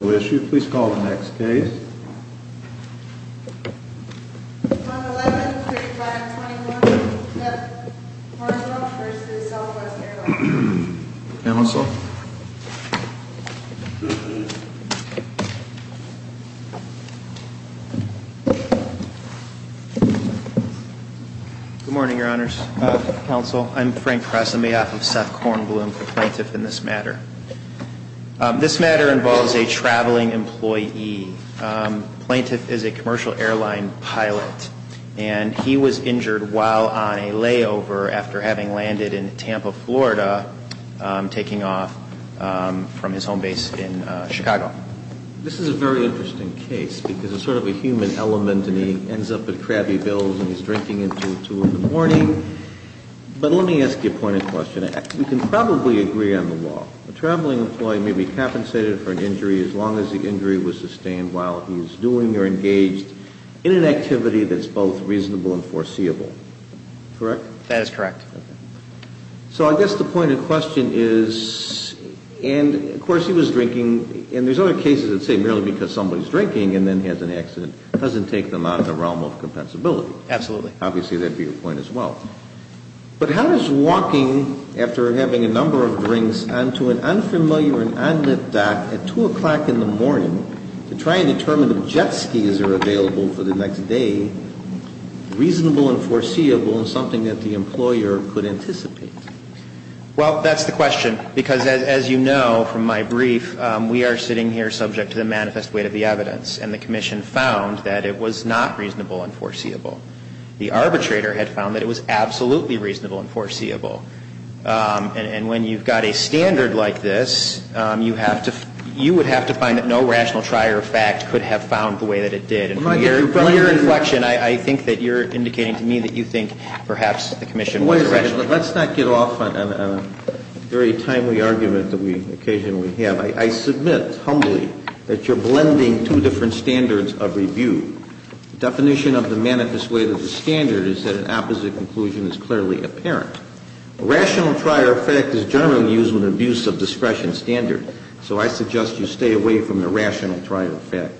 113521 Seth Kornblum v. Southwest Airlines Good morning, your honors. Counsel, I'm Frank Kress on behalf of Seth Kornblum, the plaintiff in this matter. This matter involves a traveling employee. The plaintiff is a commercial airline pilot, and he was injured while on a layover after having landed in Tampa, Florida, taking off from his home base in Chicago. This is a very interesting case, because it's sort of a human element, and he ends up at Krabby Bill's and he's drinking until two in the morning. But let me ask you a point of question. You can probably agree on the law. A traveling employee may be compensated for an injury as long as the injury was sustained while he's doing or engaged in an activity that's both reasonable and foreseeable. Correct? That is correct. So I guess the point of question is, and of course he was drinking, and there's other cases that say merely because somebody's drinking and then has an accident doesn't take them out of the realm of compensability. Absolutely. Obviously, that would be your point as well. But how is walking after having a number of drinks onto an unfamiliar and unlit dock at 2 o'clock in the morning to try and determine if jet skis are available for the next day reasonable and foreseeable and something that the employer could anticipate? Well, that's the question, because as you know from my brief, we are sitting here subject to the manifest weight of the evidence, and the Commission found that it was not reasonable and foreseeable. The arbitrator had found that it was absolutely reasonable and foreseeable. And when you've got a standard like this, you have to, you would have to find that no rational trier of fact could have found the way that it did. And from your inflection, I think that you're indicating to me that you think perhaps the Commission was rational. Wait a second. Let's not get off on a very timely argument that we occasionally have. I submit humbly that you're blending two different standards of review. The definition of the manifest weight of the standard is that an opposite conclusion is clearly apparent. A rational trier of fact is generally used with an abuse of discretion standard. So I suggest you stay away from the rational trier of fact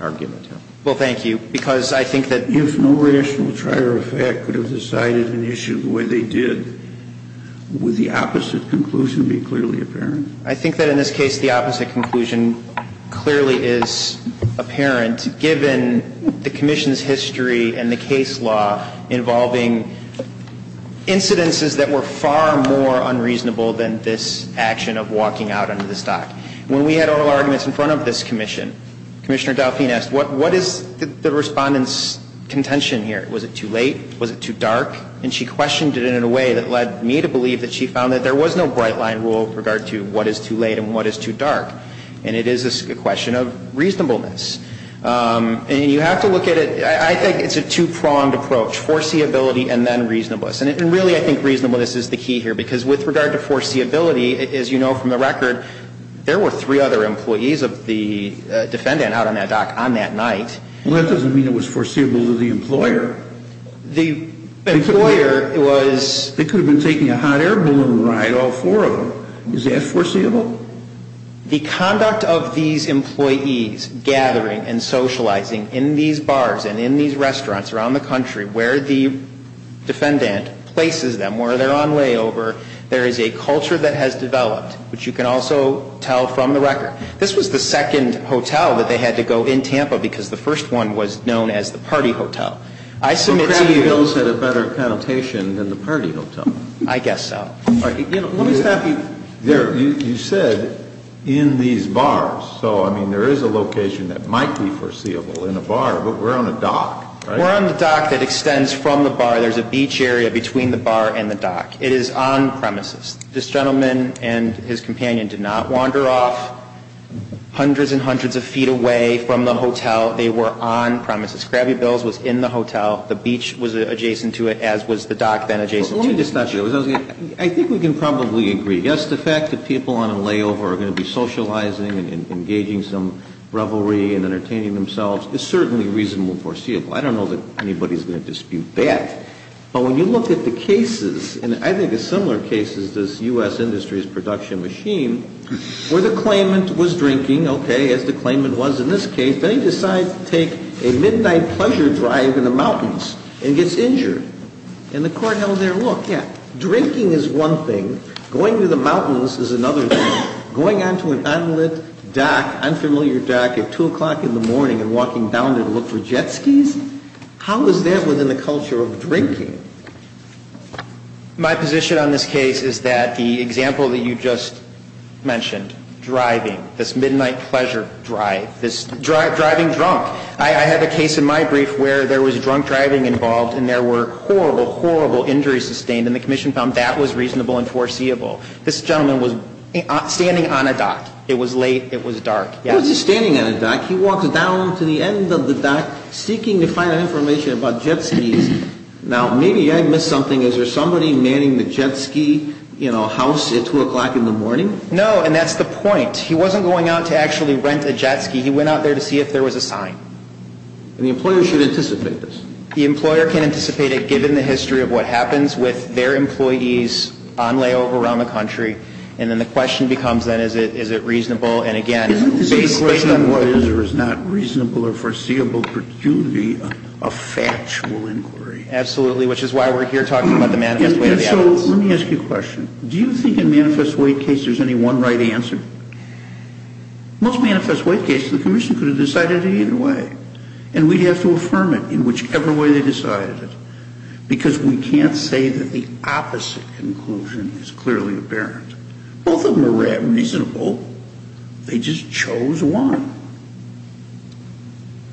argument. Well, thank you, because I think that If no rational trier of fact could have decided an issue the way they did, would the opposite conclusion be clearly apparent? I think that in this case, the opposite conclusion clearly is apparent, given the Commission's history and the case law involving incidences that were far more unreasonable than this action of walking out under the stock. When we had oral arguments in front of this Commission, Commissioner Dauphine asked, what is the Respondent's contention here? Was it too late? Was it too dark? And she questioned it in a way that led me to believe that she found that there was no bright-line rule with regard to what is too late and what is too dark. And it is a question of reasonableness. And you have to look at it, I think it's a two-pronged approach, foreseeability and then reasonableness. And really, I think reasonableness is the key here. Because with regard to foreseeability, as you know from the record, there were three other employees of the defendant out on that dock on that night. Well, that doesn't mean it was foreseeable to the employer. The employer was They could have been taking a hot air balloon ride, all four of them. Is that foreseeable? The conduct of these employees gathering and socializing in these bars and in these restaurants around the country where the defendant places them, where they're on layover, there is a culture that has developed, which you can also tell from the record. This was the second hotel that they had to go in Tampa because the first one was known as the party hotel. I submit to you Bill's had a better connotation than the party hotel. I guess so. Let me stop you there. You said in these bars, so I mean, there is a location that might be foreseeable in a bar, but we're on a dock, right? We're on the dock that extends from the bar. There's a beach area between the bar and the dock. It is on premises. This gentleman and his companion did not wander off hundreds and hundreds of feet away from the hotel. They were on premises. Scrabby Bill's was in the hotel. The beach was adjacent to it, as was the dock then adjacent to it. Let me just ask you, I think we can probably agree. Yes, the fact that people on a layover are going to be socializing and engaging some revelry and entertaining themselves is certainly reasonable and foreseeable. I don't know that anybody is going to dispute that. But when you look at the cases, and I think a similar case is this U.S. Industries production machine, where the claimant was drinking, okay, as the claimant was in this case, then he decides to take a midnight pleasure drive in the mountains and gets injured. And the court held there, look, yeah, drinking is one thing. Going to the mountains is another thing. Going on to an unlit dock, unfamiliar dock at 2 o'clock in the morning and walking down to look for jet skis, how is that within the culture of drinking? My position on this case is that the example that you just mentioned, driving, this is driving drunk. I had a case in my brief where there was drunk driving involved and there were horrible, horrible injuries sustained, and the commission found that was reasonable and foreseeable. This gentleman was standing on a dock. It was late. It was dark. He was just standing on a dock. He walked down to the end of the dock seeking to find information about jet skis. Now, maybe I missed something. Is there somebody manning the jet ski, you know, house at 2 o'clock in the morning? No, and that's the point. He wasn't going out to actually rent a jet ski. He went out there to see if there was a sign. And the employer should anticipate this? The employer can anticipate it given the history of what happens with their employees on layover around the country, and then the question becomes then is it reasonable, and again, based on what is or is not reasonable or foreseeable, a factual inquiry. Absolutely, which is why we're here talking about the manifest weight of the evidence. And so let me ask you a question. Do you think in manifest weight cases there's any one right answer? Most manifest weight cases, the commission could have decided it either way, and we'd have to affirm it in whichever way they decided it. Because we can't say that the opposite conclusion is clearly apparent. Both of them are reasonable. They just chose one.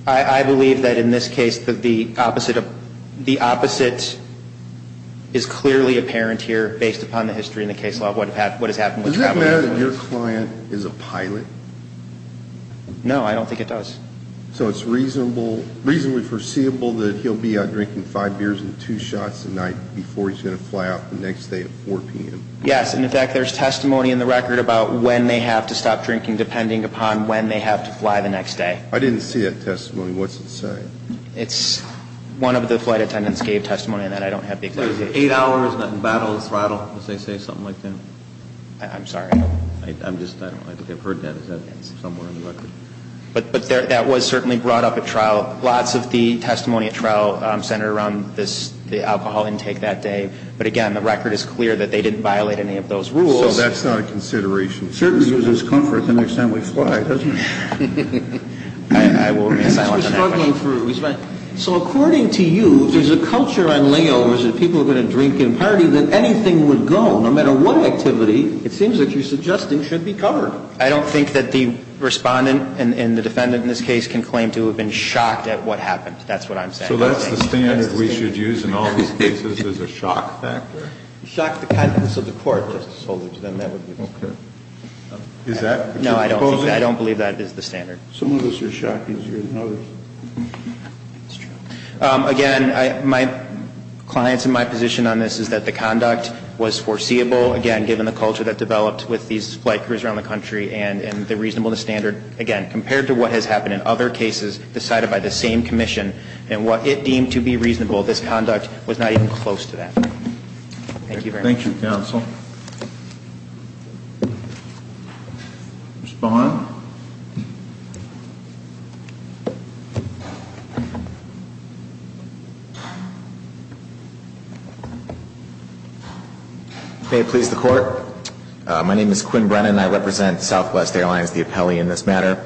I believe that in this case that the opposite is clearly apparent here based upon the history and the case law of what has happened with travel employees. Does that mean that your client is a pilot? No, I don't think it does. So it's reasonably foreseeable that he'll be out drinking five beers and two shots a night before he's going to fly out the next day at 4 p.m.? Yes, and in fact, there's testimony in the record about when they have to stop drinking depending upon when they have to fly the next day. I didn't see that testimony. What's it say? It's one of the flight attendants gave testimony on that. I don't have the exact date. Eight hours, battle, throttle. Does it say something like that? I'm sorry. I'm just, I don't know. I think I've heard that. Is that somewhere in the record? But that was certainly brought up at trial. Lots of the testimony at trial centered around this, the alcohol intake that day. But again, the record is clear that they didn't violate any of those rules. So that's not a consideration. It certainly gives us comfort the next time we fly, doesn't it? I will reassign myself to that. I'm struggling for a response. So according to you, if there's a culture on layovers that people are going to drink in party, that anything would go, no matter what activity, it seems that you're suggesting should be covered. I don't think that the Respondent and the Defendant in this case can claim to have been shocked at what happened. That's what I'm saying. So that's the standard we should use in all these cases as a shock factor? Shock the contents of the court. Okay. Is that what you're proposing? No, I don't think that. I don't believe that is the standard. Some of us are shocked easier than others. That's true. Again, my client's and my position on this is that the conduct was foreseeable, again, given the culture that developed with these flight crews around the country and the reasonableness standard, again, compared to what has happened in other cases decided by the same commission and what it deemed to be reasonable, this conduct was not even close to that. Thank you very much. Thank you, counsel. Respond? Thank you. May it please the Court. My name is Quinn Brennan. I represent Southwest Airlines, the appellee in this matter.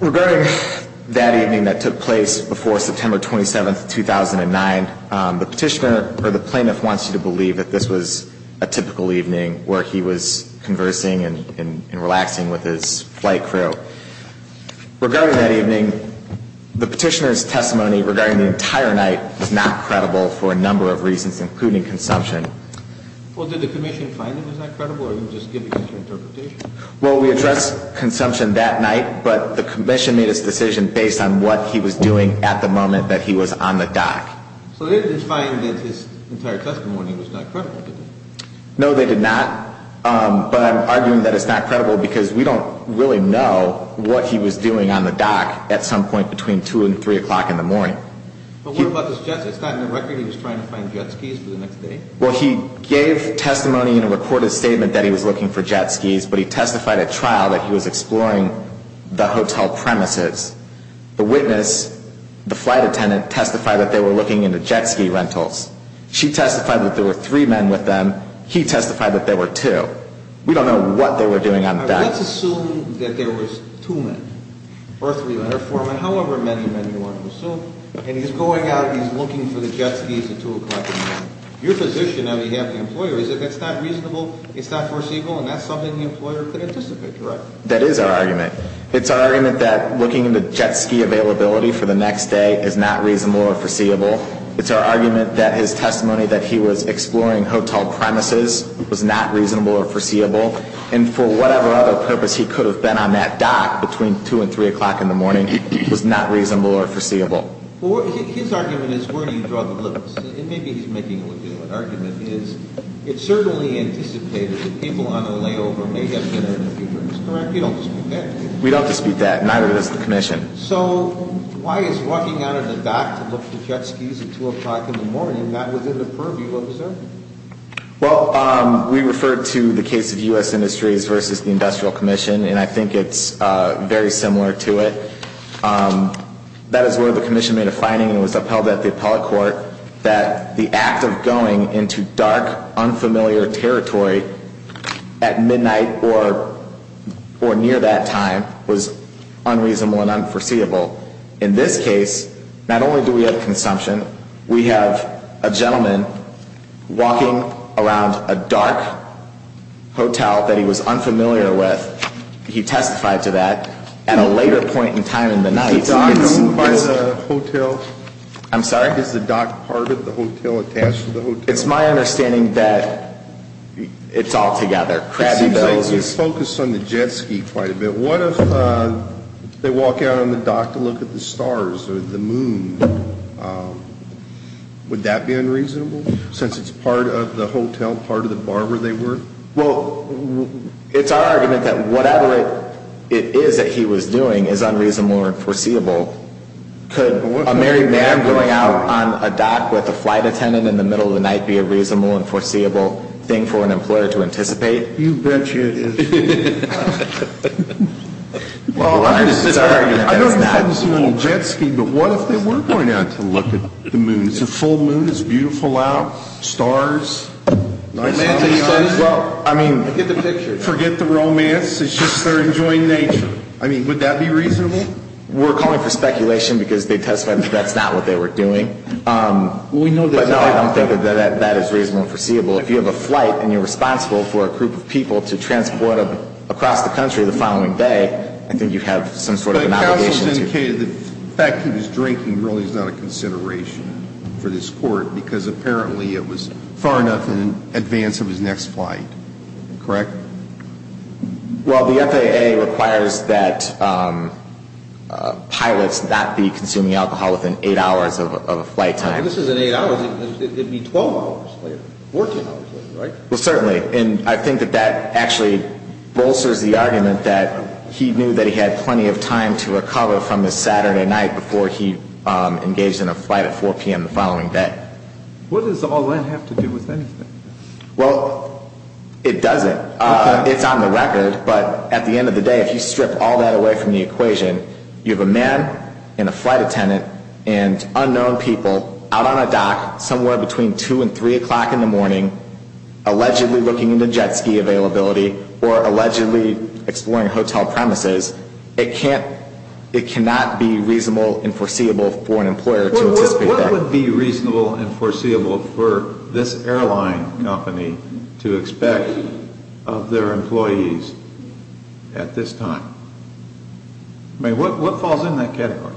Regarding that evening that took place before September 27, 2009, the Petitioner or the Plaintiff wants you to believe that this was a typical evening where he was conversing and relaxing with his flight crew. Regarding that evening, the Petitioner's testimony regarding the entire night was not credible for a number of reasons, including consumption. Well, did the commission find it was not credible, or are you just giving us your interpretation? Well, we addressed consumption that night, but the commission made its decision based on what he was doing at the moment that he was on the dock. So they didn't find that his entire testimony was not credible, did they? No, they did not. But I'm arguing that it's not credible because we don't really know what he was doing on the dock at some point between 2 and 3 o'clock in the morning. But what about this jet ski? It's not in the record he was trying to find jet skis for the next day? Well, he gave testimony in a recorded statement that he was looking for jet skis, but he testified at trial that he was exploring the hotel premises. The witness, the flight attendant, testified that they were looking into jet ski rentals. She testified that there were three men with them. He testified that there were two. We don't know what they were doing on deck. Let's assume that there was two men or three men or four men, however many men you want to assume, and he's going out and he's looking for the jet ski at 2 o'clock in the morning. Your position on behalf of the employer is that that's not reasonable, it's not foreseeable, and that's something the employer could anticipate, correct? That is our argument. It's our argument that looking into jet ski availability for the next day is not reasonable or foreseeable. It's our argument that his testimony that he was exploring hotel premises was not reasonable or foreseeable, and for whatever other purpose he could have been on that dock between 2 and 3 o'clock in the morning was not reasonable or foreseeable. Well, his argument is, where do you draw the limits? And maybe he's making a legitimate argument, is it's certainly anticipated that people on their layover may have been having a few drinks, correct? We don't dispute that. We don't dispute that. Neither does the commission. So why is walking out of the dock to look for jet skis at 2 o'clock in the morning not within the purview of the circuit? Well, we referred to the case of U.S. Industries versus the Industrial Commission, and I think it's very similar to it. That is where the commission made a finding and was upheld at the appellate court that the act of going into dark, unfamiliar territory at midnight or near that time was unreasonable and unforeseeable. In this case, not only do we have consumption, we have a gentleman walking around a dark hotel that he was unfamiliar with. He testified to that at a later point in time in the night. Is the dock known by the hotel? I'm sorry? Is the dock part of the hotel attached to the hotel? It's my understanding that it's all together. It's focused on the jet ski quite a bit. What if they walk out on the dock to look at the stars or the moon? Would that be unreasonable since it's part of the hotel, part of the bar where they work? Well, it's our argument that whatever it is that he was doing is unreasonable or unforeseeable. Could a married man going out on a dock with a flight attendant in the middle of the night be a reasonable and foreseeable thing for an employer to anticipate? You bet you it is. Well, it's our argument that it's not. I don't understand the jet ski, but what if they were going out to look at the moon? It's a full moon. It's beautiful out. Stars. I mean, forget the romance. It's just they're enjoying nature. I mean, would that be reasonable? We're calling for speculation because they testified that that's not what they were doing. But no, I don't think that that is reasonable and foreseeable. If you have a flight and you're responsible for a group of people to transport them across the country the following day, I think you have some sort of an obligation to do that. But counsel has indicated that the fact that he was drinking really is not a consideration for this Court because apparently it was far enough in advance of his next flight. Correct? Well, the FAA requires that pilots not be consuming alcohol within eight hours of a flight time. And this isn't eight hours. It would be 12 hours later, 14 hours later, right? Well, certainly. And I think that that actually bolsters the argument that he knew that he had plenty of time to recover from his Saturday night before he engaged in a flight at 4 p.m. the following day. What does all that have to do with anything? Well, it doesn't. It's on the record. But at the end of the day, if you strip all that away from the equation, you have a man and a flight attendant and unknown people out on a dock somewhere between 2 and 3 o'clock in the morning allegedly looking into jet ski availability or allegedly exploring hotel premises. It cannot be reasonable and foreseeable for an employer to anticipate that. What would be reasonable and foreseeable for this airline company to expect of their employees at this time? I mean, what falls in that category?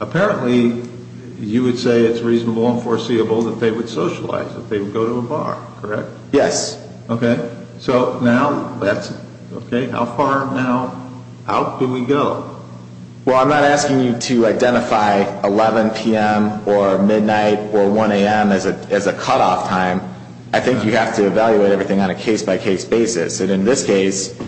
Apparently, you would say it's reasonable and foreseeable that they would socialize, that they would go to a bar, correct? Yes. Okay. So now that's okay. How far now out do we go? Well, I'm not asking you to identify 11 p.m. or midnight or 1 a.m. as a cutoff time. I think you have to evaluate everything on a case-by-case basis. And in this case,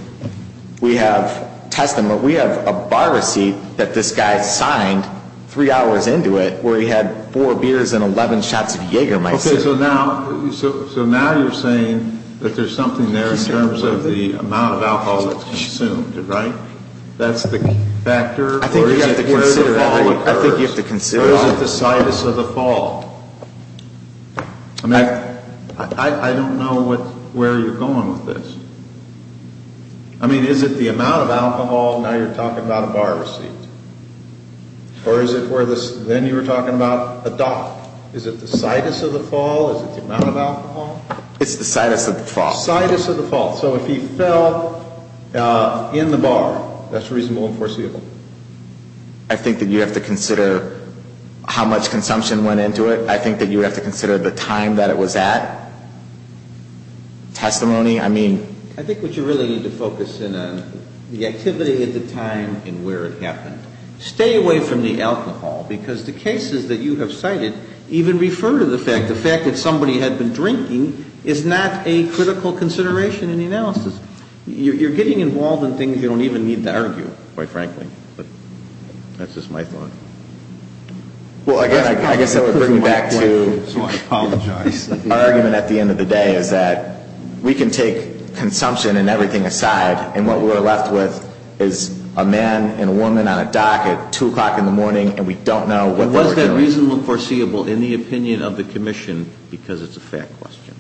we have a bar receipt that this guy signed three hours into it where he had four beers and 11 shots of Jägermeister. Okay. So now you're saying that there's something there in terms of the amount of alcohol that's consumed, right? That's the factor? I think you have to consider that. Where does the fall occur? I think you have to consider that. Or is it the situs of the fall? I don't know where you're going with this. I mean, is it the amount of alcohol? Now you're talking about a bar receipt. Or is it where then you were talking about a dock? Is it the situs of the fall? Is it the amount of alcohol? It's the situs of the fall. Situs of the fall. So if he fell in the bar, that's reasonable and foreseeable. I think that you have to consider how much consumption went into it. I think that you have to consider the time that it was at. Testimony, I mean. I think what you really need to focus in on, the activity at the time and where it happened. Stay away from the alcohol because the cases that you have cited even refer to the fact, the fact that somebody had been drinking is not a critical consideration in the analysis. You're getting involved in things you don't even need to argue, quite frankly. That's just my thought. Well, again, I guess that would bring me back to our argument at the end of the day, is that we can take consumption and everything aside, and what we're left with is a man and a woman on a dock at 2 o'clock in the morning, and we don't know what they were doing. But was that reasonable and foreseeable in the opinion of the commission because it's a fact question?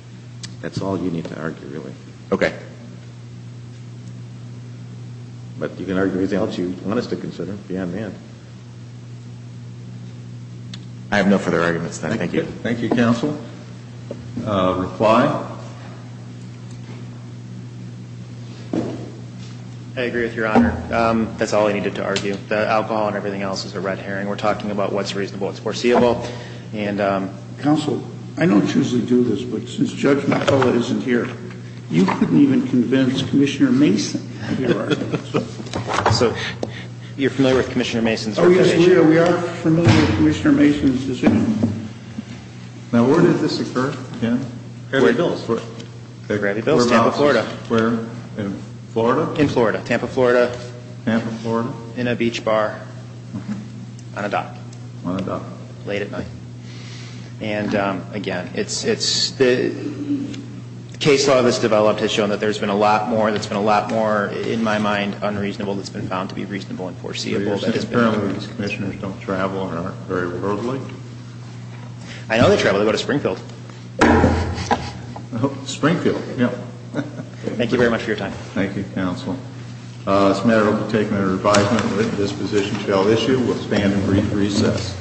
That's all you need to argue, really. Okay. But you can argue anything else you want us to consider beyond that. I have no further arguments, then. Thank you. Thank you, counsel. Reply. I agree with Your Honor. That's all I needed to argue. The alcohol and everything else is a red herring. We're talking about what's reasonable, what's foreseeable. Counsel, I don't usually do this, but since Judge McCullough isn't here, you couldn't even convince Commissioner Mason. So you're familiar with Commissioner Mason's decision? Oh, yes, we are. We are familiar with Commissioner Mason's decision. Now, where did this occur? Gravy Bills. Gravy Bills, Tampa, Florida. Where? In Florida? In Florida. Tampa, Florida. Tampa, Florida. In a beach bar. On a dock. On a dock. Late at night. And, again, it's the case law that's developed has shown that there's been a lot more, that's been a lot more, in my mind, unreasonable that's been found to be reasonable and foreseeable. Apparently these commissioners don't travel and aren't very worldly. I know they travel. They go to Springfield. Thank you very much for your time. Thank you, counsel. This matter will be taken under advisement. This position shall issue. We'll stand and brief recess.